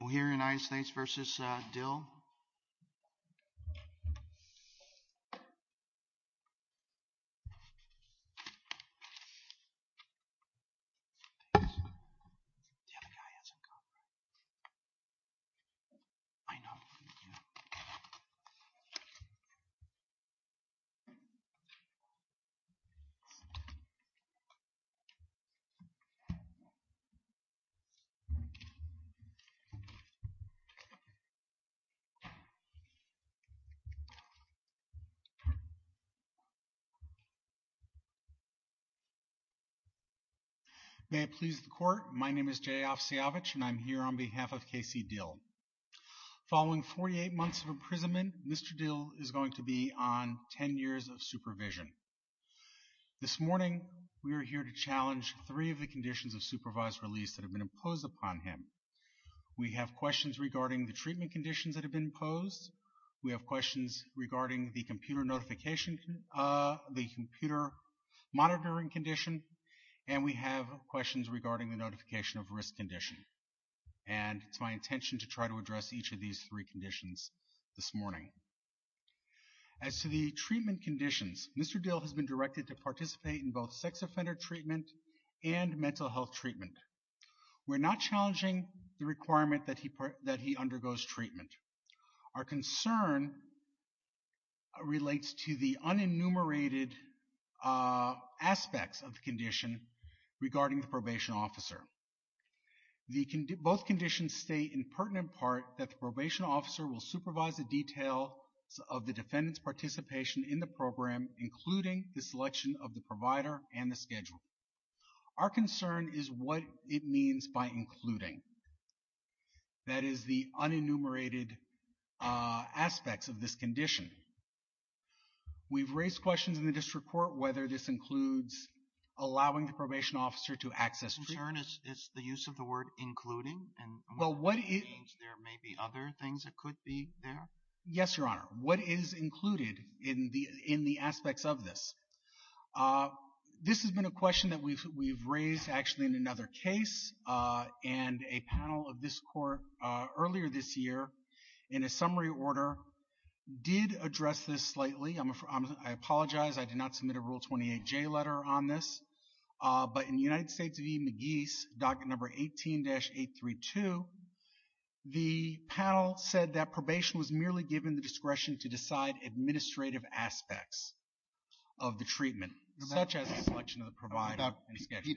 We'll hear United States v. Dill. May it please the court, my name is Jay Ofsiavich and I'm here on behalf of K.C. Dill. Following 48 months of imprisonment, Mr. Dill is going to be on 10 years of supervision. This morning, we are here to challenge three of the conditions of supervised release that have been imposed upon him. We have questions regarding the treatment conditions that have been imposed. We have questions regarding the computer notification, the computer monitoring condition. And we have questions regarding the notification of risk condition. And it's my intention to try to address each of these three conditions this morning. As to the treatment conditions, Mr. Dill has been directed to participate in both sex offender treatment and mental health treatment. We're not challenging the requirement that he undergoes treatment. Our concern relates to the unenumerated aspects of the condition regarding the probation officer. Both conditions state in pertinent part that the probation officer will supervise the details of the defendant's participation in the program, including the selection of the provider and the schedule. Our concern is what it means by including. That is, the unenumerated aspects of this condition. We've raised questions in the district court whether this includes allowing the probation officer to access treatment. Your concern is the use of the word including? And there may be other things that could be there? Yes, Your Honor. What is included in the aspects of this? This has been a question that we've raised actually in another case. And a panel of this court earlier this year, in a summary order, did address this slightly. I apologize. I did not submit a Rule 28J letter on this. But in United States v. McGee's, Docket Number 18-832, the panel said that probation was merely given the discretion to decide administrative aspects of the treatment, such as the selection of the provider and schedule.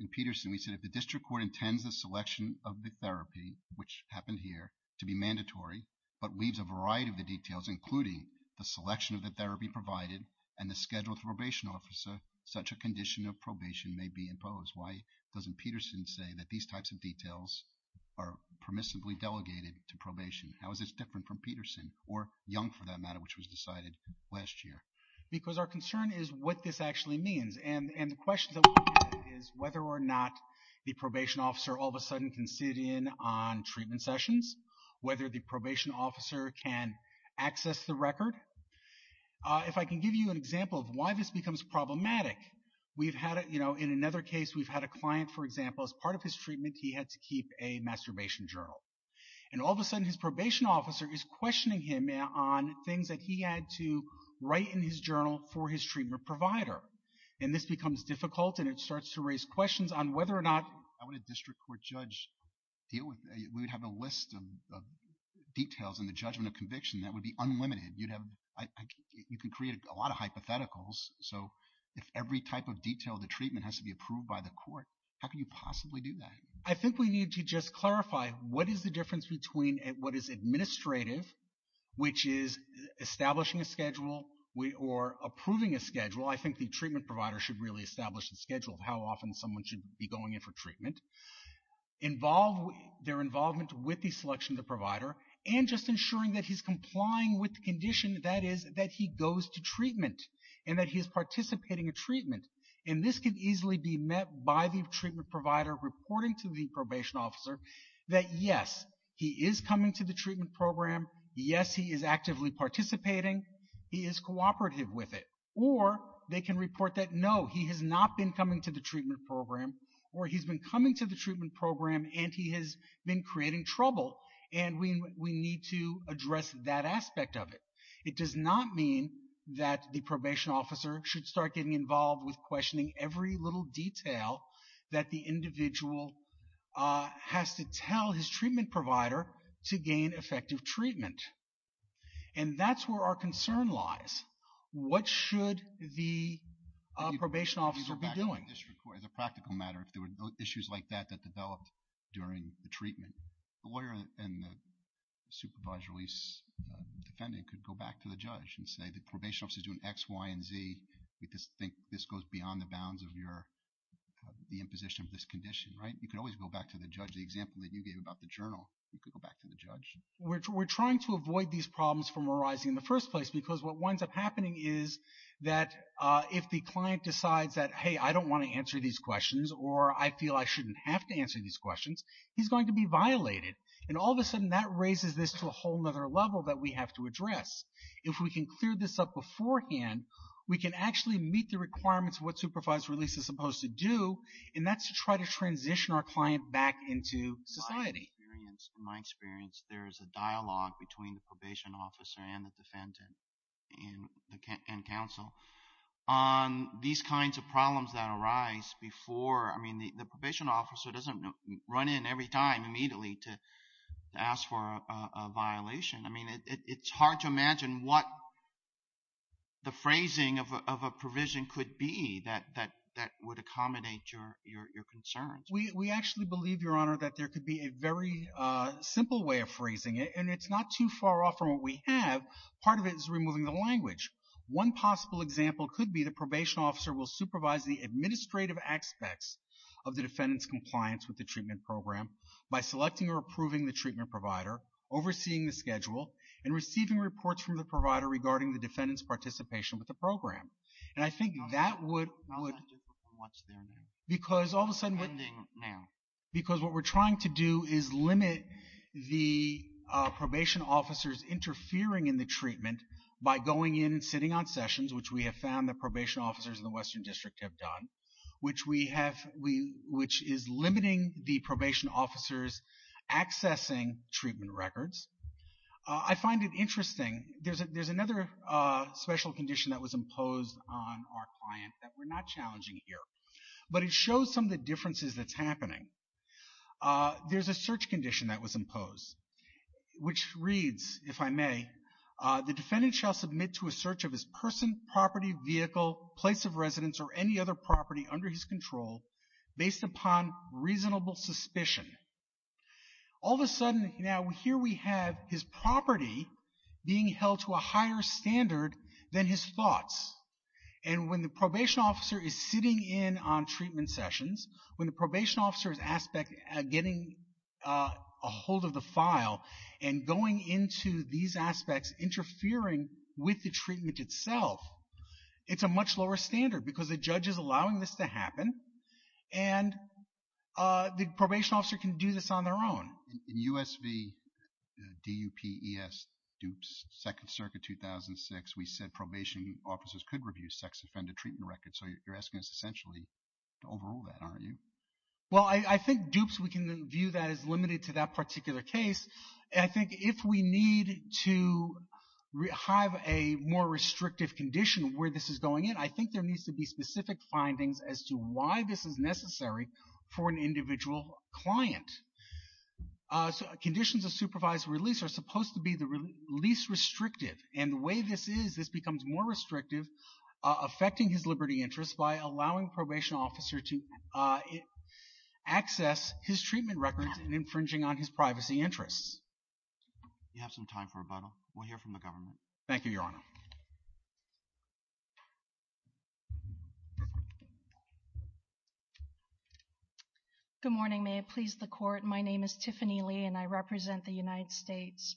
In Peterson, we said if the district court intends the selection of the therapy, which happened here, to be mandatory, but leaves a variety of the details, including the selection of the therapy provided and the schedule with probation officer, such a condition of probation may be imposed. Why doesn't Peterson say that these types of details are permissibly delegated to probation? How is this different from Peterson, or Young for that matter, which was decided last year? Because our concern is what this actually means. And the question that we have is whether or not the probation officer all of a sudden can sit in on treatment sessions, whether the probation officer can access the record. If I can give you an example of why this becomes problematic, we've had, you know, in another case we've had a client, for example, as part of his treatment, he had to keep a masturbation journal. And all of a sudden his probation officer is questioning him on things that he had to write in his journal for his treatment provider. And this becomes difficult and it starts to raise questions on whether or not I want a district court judge deal with, we would have a list of details in the judgment of conviction that would be unlimited. You'd have, you can create a lot of hypotheticals. So if every type of detail of the treatment has to be approved by the court, how can you possibly do that? I think we need to just clarify what is the difference between what is administrative, which is establishing a schedule or approving a schedule. I think the treatment provider should really establish the schedule of how often someone should be going in for treatment. Involve their involvement with the selection of the provider and just ensuring that he's complying with the condition that is that he goes to treatment and that he is participating in treatment. And this can easily be met by the treatment provider reporting to the probation officer that yes, he is coming to the treatment program. Yes, he is actively participating. He is cooperative with it. Or they can report that no, he has not been coming to the treatment program or he's been coming to the treatment program and he has been creating trouble and we need to address that aspect of it. It does not mean that the individual has to be involved with questioning every little detail that the individual has to tell his treatment provider to gain effective treatment. And that's where our concern lies. What should the probation officer be doing? As a practical matter, if there were issues like that that developed during the treatment, the lawyer and the supervised release defendant could go back to the judge and say the probation this goes beyond the bounds of your, the imposition of this condition, right? You could always go back to the judge. The example that you gave about the journal, you could go back to the judge. We're trying to avoid these problems from arising in the first place because what winds up happening is that if the client decides that hey, I don't want to answer these questions or I feel I shouldn't have to answer these questions, he's going to be violated. And all of a sudden that raises this to a whole other level that we have to address. If we can clear this up beforehand, we can actually meet the requirements of what supervised release is supposed to do, and that's to try to transition our client back into society. In my experience, there is a dialogue between the probation officer and the defendant and counsel on these kinds of problems that arise before, I mean, the probation officer doesn't run in every time immediately to ask for a violation. I mean, it's hard to imagine what the phrasing of a provision could be that would accommodate your concerns. We actually believe, Your Honor, that there could be a very simple way of phrasing it, and it's not too far off from what we have. Part of it is removing the language. One possible example could be the probation officer will supervise the administrative aspects of the treatment program by selecting or approving the treatment provider, overseeing the schedule, and receiving reports from the provider regarding the defendant's participation with the program. And I think that would... No, that's not different from what's there now. Because all of a sudden... Ending now. Because what we're trying to do is limit the probation officers interfering in the treatment by going in and sitting on sessions, which we have found that probation officers in the probation officers accessing treatment records. I find it interesting, there's another special condition that was imposed on our client that we're not challenging here, but it shows some of the differences that's happening. There's a search condition that was imposed, which reads, if I may, the defendant shall submit to a search of his person, property, vehicle, place of residence, or any other property under his control based upon reasonable suspicion. All of a sudden, now here we have his property being held to a higher standard than his thoughts. And when the probation officer is sitting in on treatment sessions, when the probation officer's aspect of getting a hold of the file and going into these aspects interfering with the treatment itself, it's a much lower standard because the judge is allowing this to happen, and the probation officer can do this on their own. In U.S. v. D.U.P.E.S., Dupes, Second Circuit, 2006, we said probation officers could review sex-offended treatment records, so you're asking us essentially to overrule that, aren't you? Well, I think Dupes, we can view that as limited to that particular case. I think if we need to have a more restrictive condition where this is going in, I think there needs to be specific findings as to why this is necessary for an individual client. Conditions of supervised release are supposed to be the least restrictive, and the way this is, this becomes more restrictive, affecting his liberty interests by allowing the probation officer to access his treatment records and infringing on his privacy interests. Do you have some time for rebuttal? We'll hear from the government. Thank you, Your Honor. Good morning. May it please the Court, my name is Tiffany Lee, and I represent the United States.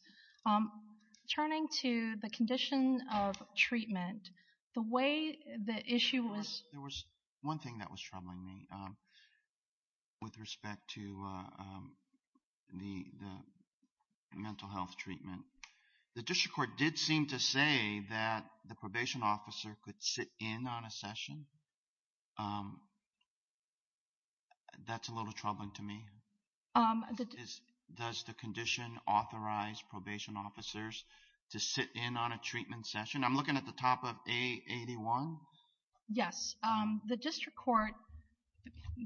Turning to the condition of treatment, the way the issue was Of course, there was one thing that was troubling me with respect to the, the, the, the, the mental health treatment. The district court did seem to say that the probation officer could sit in on a session. That's a little troubling to me. Does the condition authorize probation officers to sit in on a treatment session? I'm looking at the top of A81. Yes. The district court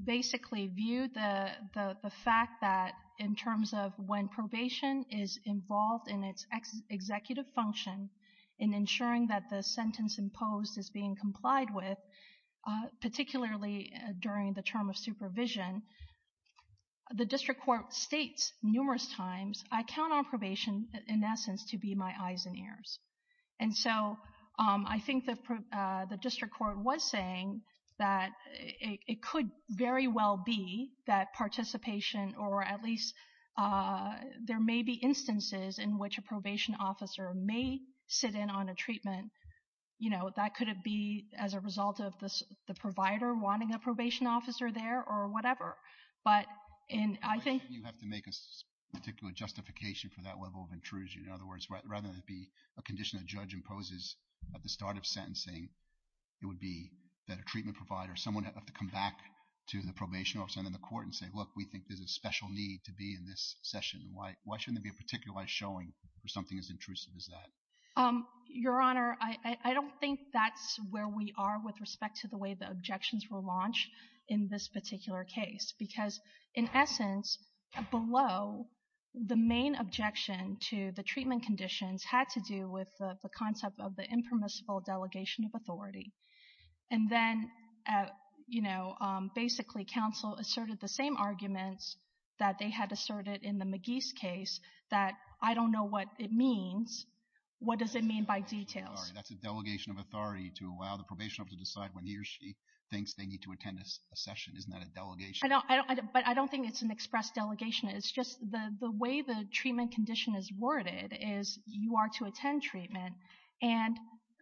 basically viewed the, the, the fact that in terms of when probation is involved in its executive function, in ensuring that the sentence imposed is being complied with, particularly during the term of supervision, the district court states numerous times, I count on probation, in essence, to be my eyes and ears. And so, I think that the district court was saying that it could very well be that participation, or at least there may be instances in which a probation officer may sit in on a treatment. You know, that could be as a result of the, the provider wanting a probation officer there or whatever. But in, I think You have to make a particular justification for that level of intrusion. In other words, rather than it be a condition a judge imposes at the start of sentencing, it would be that a treatment provider, someone would have to come back to the probation officer and then the court and say, look, we think there's a special need to be in this session. Why, why shouldn't there be a particular showing for something as intrusive as that? Your Honor, I, I don't think that's where we are with respect to the way the objections were launched in this particular case. Because in essence, below, the main objection to the treatment conditions had to do with the concept of the impermissible delegation of authority. And then, you know, basically counsel asserted the same arguments that they had asserted in the McGee's case, that I don't know what it means. What does it mean by details? That's a delegation of authority to allow the probation officer to decide when he or she thinks they need to attend a session. Isn't that a delegation? But I don't think it's an express delegation. It's just the, the way the treatment condition is worded is you are to attend treatment and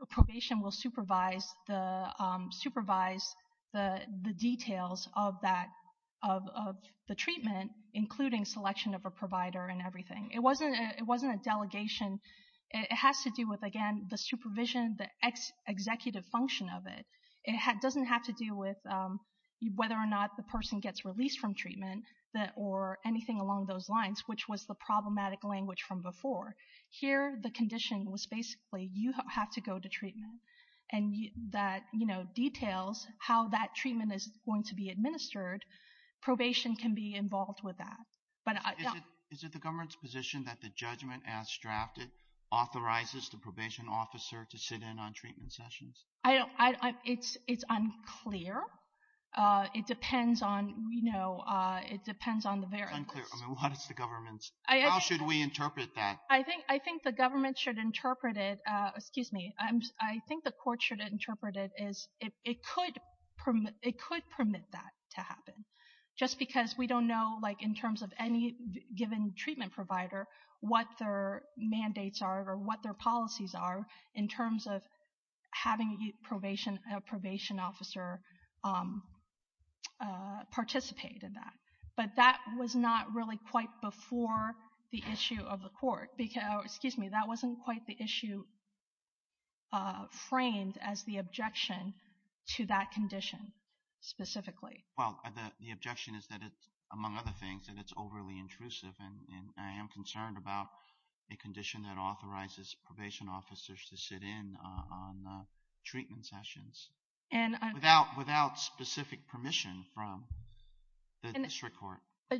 probation will supervise the, supervise the details of that, of, of the treatment, including selection of a provider and everything. It wasn't, it wasn't a delegation. It has to do with, again, the supervision, the executive function of it. It doesn't have to do with whether or not the person gets released from before. Here, the condition was basically you have to go to treatment and that, you know, details how that treatment is going to be administered. Probation can be involved with that. But is it, is it the government's position that the judgment as drafted authorizes the probation officer to sit in on treatment sessions? I don't, I, it's, it's unclear. It depends on, you know, it depends on the variables. It's unclear. I mean, what is the government's, how should we interpret that? I think, I think the government should interpret it. Excuse me. I'm, I think the court should interpret it as it, it could permit, it could permit that to happen just because we don't know, like in terms of any given treatment provider, what their mandates are or what their policies are in terms of having a probation, a probation officer participate in that. But that was not really quite before the issue of the court because, excuse me, that wasn't quite the issue framed as the objection to that condition specifically. Well, the, the objection is that it's, among other things, that it's overly intrusive and I am concerned about a condition that authorizes probation officers to sit in on treatment sessions without, without specific permission from the district court.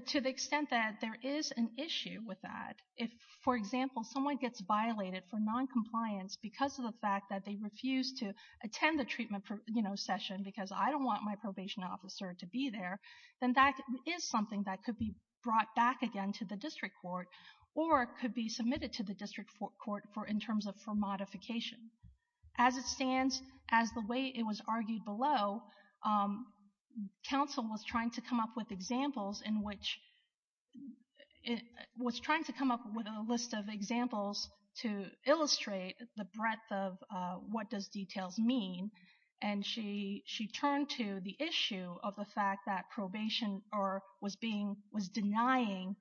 To the extent that there is an issue with that, if, for example, someone gets violated for noncompliance because of the fact that they refuse to attend the treatment, you know, session because I don't want my probation officer to be there, then that is something that could be brought back again to the district court or could be submitted to the district court for, in terms of for modification. As it stands, as the way it was argued below, counsel was trying to come up with examples in which, was trying to come up with a list of examples to illustrate the breadth of what does details mean and she, she turned to the issue of the fact that probation or was being, was denying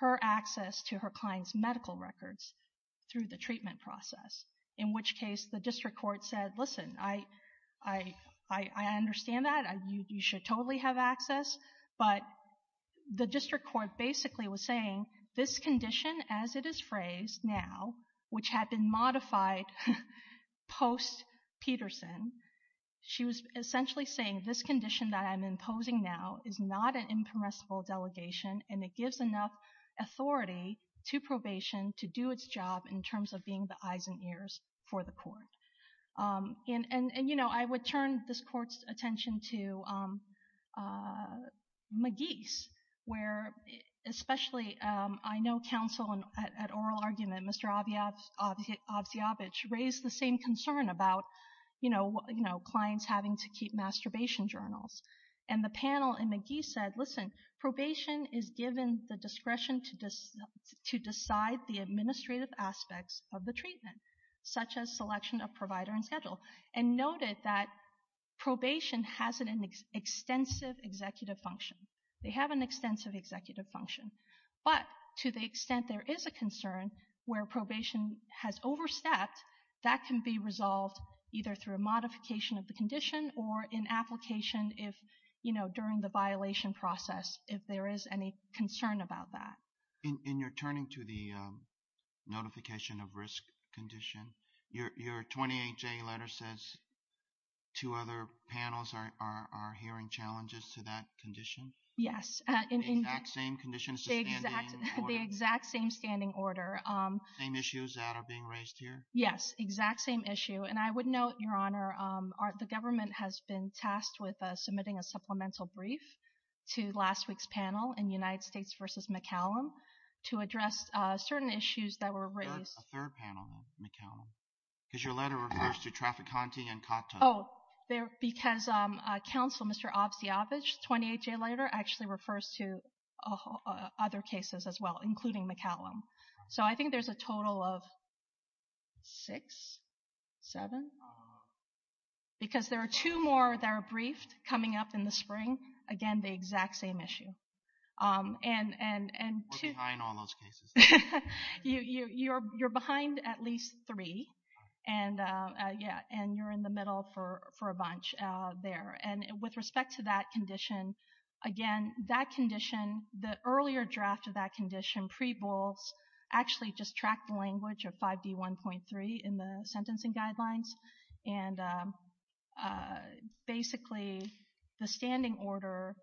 her access to her client's medical records through the treatment process. In which case the district court said, listen, I, I, I understand that, you should totally have access, but the district court basically was saying this condition as it is phrased now, which had been modified post-Peterson, she was essentially saying this condition that I'm imposing now is not an incompressible delegation and it gives enough authority to probation to do its job in terms of being the eyes and ears for the court. Um, and, and, and, you know, I would turn this court's attention to, um, uh, McGee's where especially, um, I know counsel at, at oral argument, Mr. Oviab, Oviabich raised the same concern about, you know, you know, clients having to keep masturbation journals and the panel and McGee said, listen, probation is given the discretion to, to decide the administrative aspects of the treatment, such as selection of provider and schedule. And noted that probation has an extensive executive function. They have an extensive executive function, but to the extent there is a concern where that can be resolved either through a modification of the condition or in application, if, you know, during the violation process, if there is any concern about that. In your turning to the, um, notification of risk condition, your, your 28 J letter says two other panels are, are, are hearing challenges to that condition. Yes. In the exact same condition. It's the exact, the exact same standing order, um, same issues that are being raised here. Yes. Exact same issue. And I would note your honor, um, the government has been tasked with, uh, submitting a supplemental brief to last week's panel in United States versus McCallum to address, uh, certain issues that were raised. A third panel then, McCallum, because your letter refers to Trafficante and Cotto. Oh, there, because, um, uh, counsel, Mr. Oviabich, 28 J letter actually refers to, uh, other cases as well, including McCallum. So I think there's a total of six, seven, because there are two more that are briefed coming up in the spring. Again, the exact same issue. Um, and, and, and two... We're behind on those cases. You, you, you're, you're behind at least three and, uh, uh, yeah, and you're in the middle for, for a bunch, uh, there. And with respect to that condition, again, that condition, the earlier draft of that condition, pre-bolts actually just tracked the language of 5D1.3 in the sentencing guidelines. And, um, uh, basically the standing order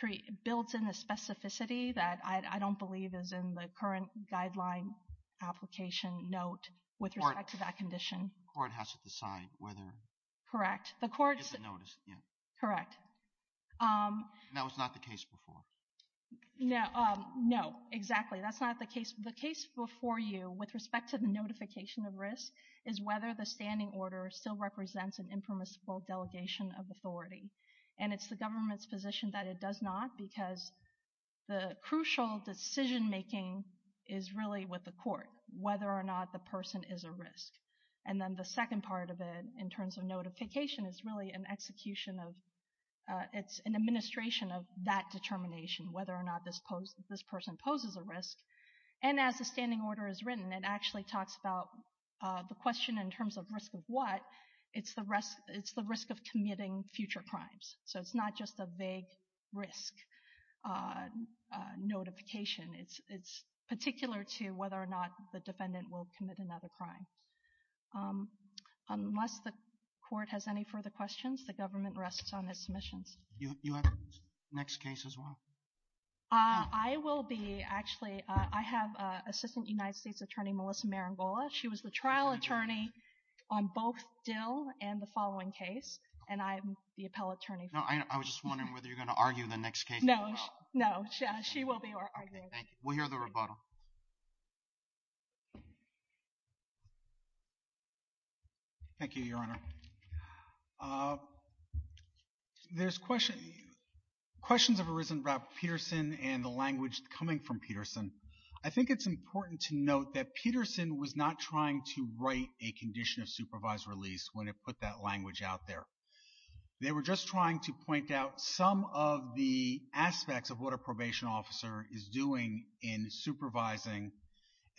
create, builds in a specificity that I, I don't believe is in the current guideline application note with respect to that condition. Court has to decide whether... Correct. The court... It's a notice, yeah. Correct. Um... And that was not the case before? No, um, no, exactly. That's not the case. The case before you, with respect to the notification of risk, is whether the standing order still represents an impermissible delegation of authority. And it's the government's position that it does not, because the crucial decision making is really with the court, whether or not the person is a risk. And then the second part of it, in terms of notification, is really an execution of, uh, it's an administration of that determination, whether or not this pose, this person poses a risk. And as the standing order is written, it actually talks about, uh, the question in terms of risk of what. It's the risk, it's the risk of committing future crimes. So it's not just a vague risk, uh, uh, notification, it's, it's particular to whether or not the defendant will commit another crime. Um, unless the court has any further questions, the government rests on its submissions. You, you have a next case as well? Uh, I will be, actually, uh, I have, uh, Assistant United States Attorney Melissa Marangola. She was the trial attorney on both Dill and the following case, and I'm the appellate attorney. No, I, I was just wondering whether you're going to argue the next case as well. No, no, she, she will be arguing. Okay, thank you. We'll hear the rebuttal. Thank you, Your Honor. Uh, there's question, questions have arisen about Peterson and the language coming from Peterson. I think it's important to note that Peterson was not trying to write a condition of supervised release when it put that language out there. They were just trying to point out some of the aspects of what a probation officer is doing in supervising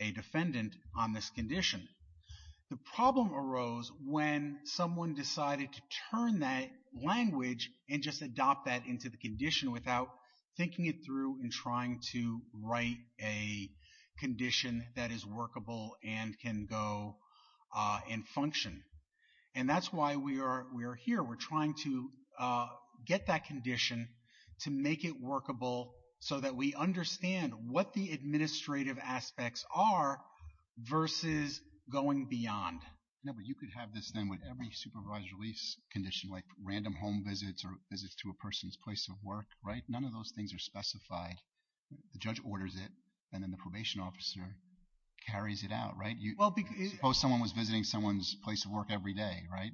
a defendant on this condition. The problem arose when someone decided to turn that language and just adopt that into the condition without thinking it through and trying to write a condition that is workable and can go, uh, and function. And that's why we are, we are here. We're trying to, uh, get that condition to make it workable so that we understand what the administrative aspects are versus going beyond. No, but you could have this then with every supervised release condition, like random home visits or visits to a person's place of work, right? None of those things are specified. The judge orders it and then the probation officer carries it out, right? Well, because Suppose someone was visiting someone's place of work every day, right?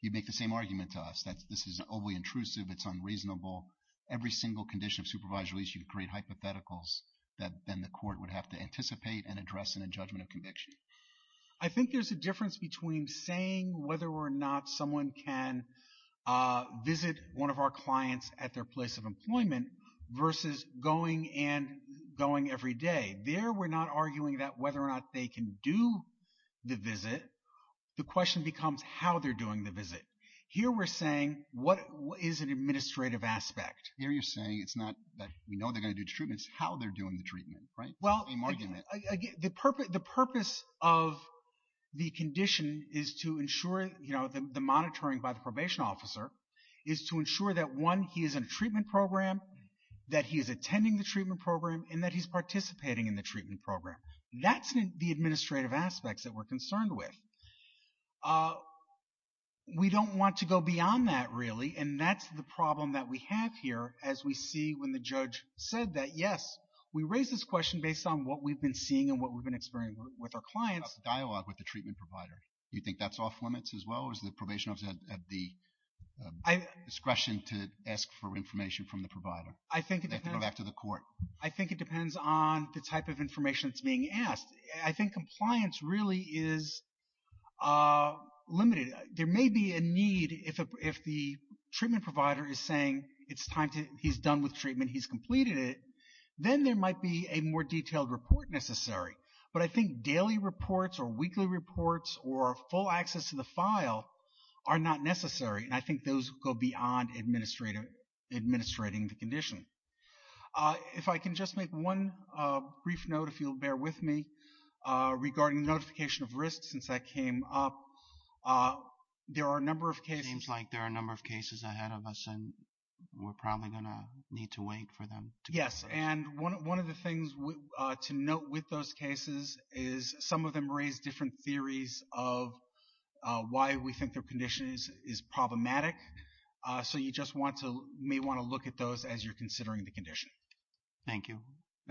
You make the same argument to us that this is overly intrusive, it's unreasonable. Every single condition of supervised release, you create hypotheticals that then the court would have to anticipate and address in a judgment of conviction. I think there's a difference between saying whether or not someone can, uh, visit one of our clients at their place of employment versus going and going every day. There, we're not arguing that whether or not they can do the visit. The question becomes how they're doing the visit. Here we're saying, what is an administrative aspect? Here you're saying it's not that we know they're going to do the treatment, it's how they're doing the treatment, right? The same argument. Well, again, the purpose of the condition is to ensure, you know, the monitoring by the probation officer is to ensure that one, he is in a treatment program, that he is attending the treatment program, and that he's participating in the treatment program. That's the administrative aspects that we're concerned with. Uh, we don't want to go beyond that, really, and that's the problem that we have here, as we see when the judge said that, yes, we raise this question based on what we've been seeing and what we've been experiencing with our clients. Dialogue with the treatment provider, do you think that's off limits as well, or is the probation officer at the discretion to ask for information from the provider? I think it depends. They have to go back to the court. I think it depends on the type of information that's being asked. I think compliance really is limited. There may be a need, if the treatment provider is saying it's time to, he's done with treatment, he's completed it, then there might be a more detailed report necessary, but I think daily reports or weekly reports or full access to the file are not necessary, and I think those go beyond administrating the condition. Uh, if I can just make one brief note, if you'll bear with me, regarding notification of risk, since that came up. There are a number of cases. Seems like there are a number of cases ahead of us, and we're probably going to need to wait for them. Yes, and one of the things to note with those cases is some of them raise different theories of why we think their condition is problematic, so you just want to, may want to look at those as you're considering the condition. Thank you.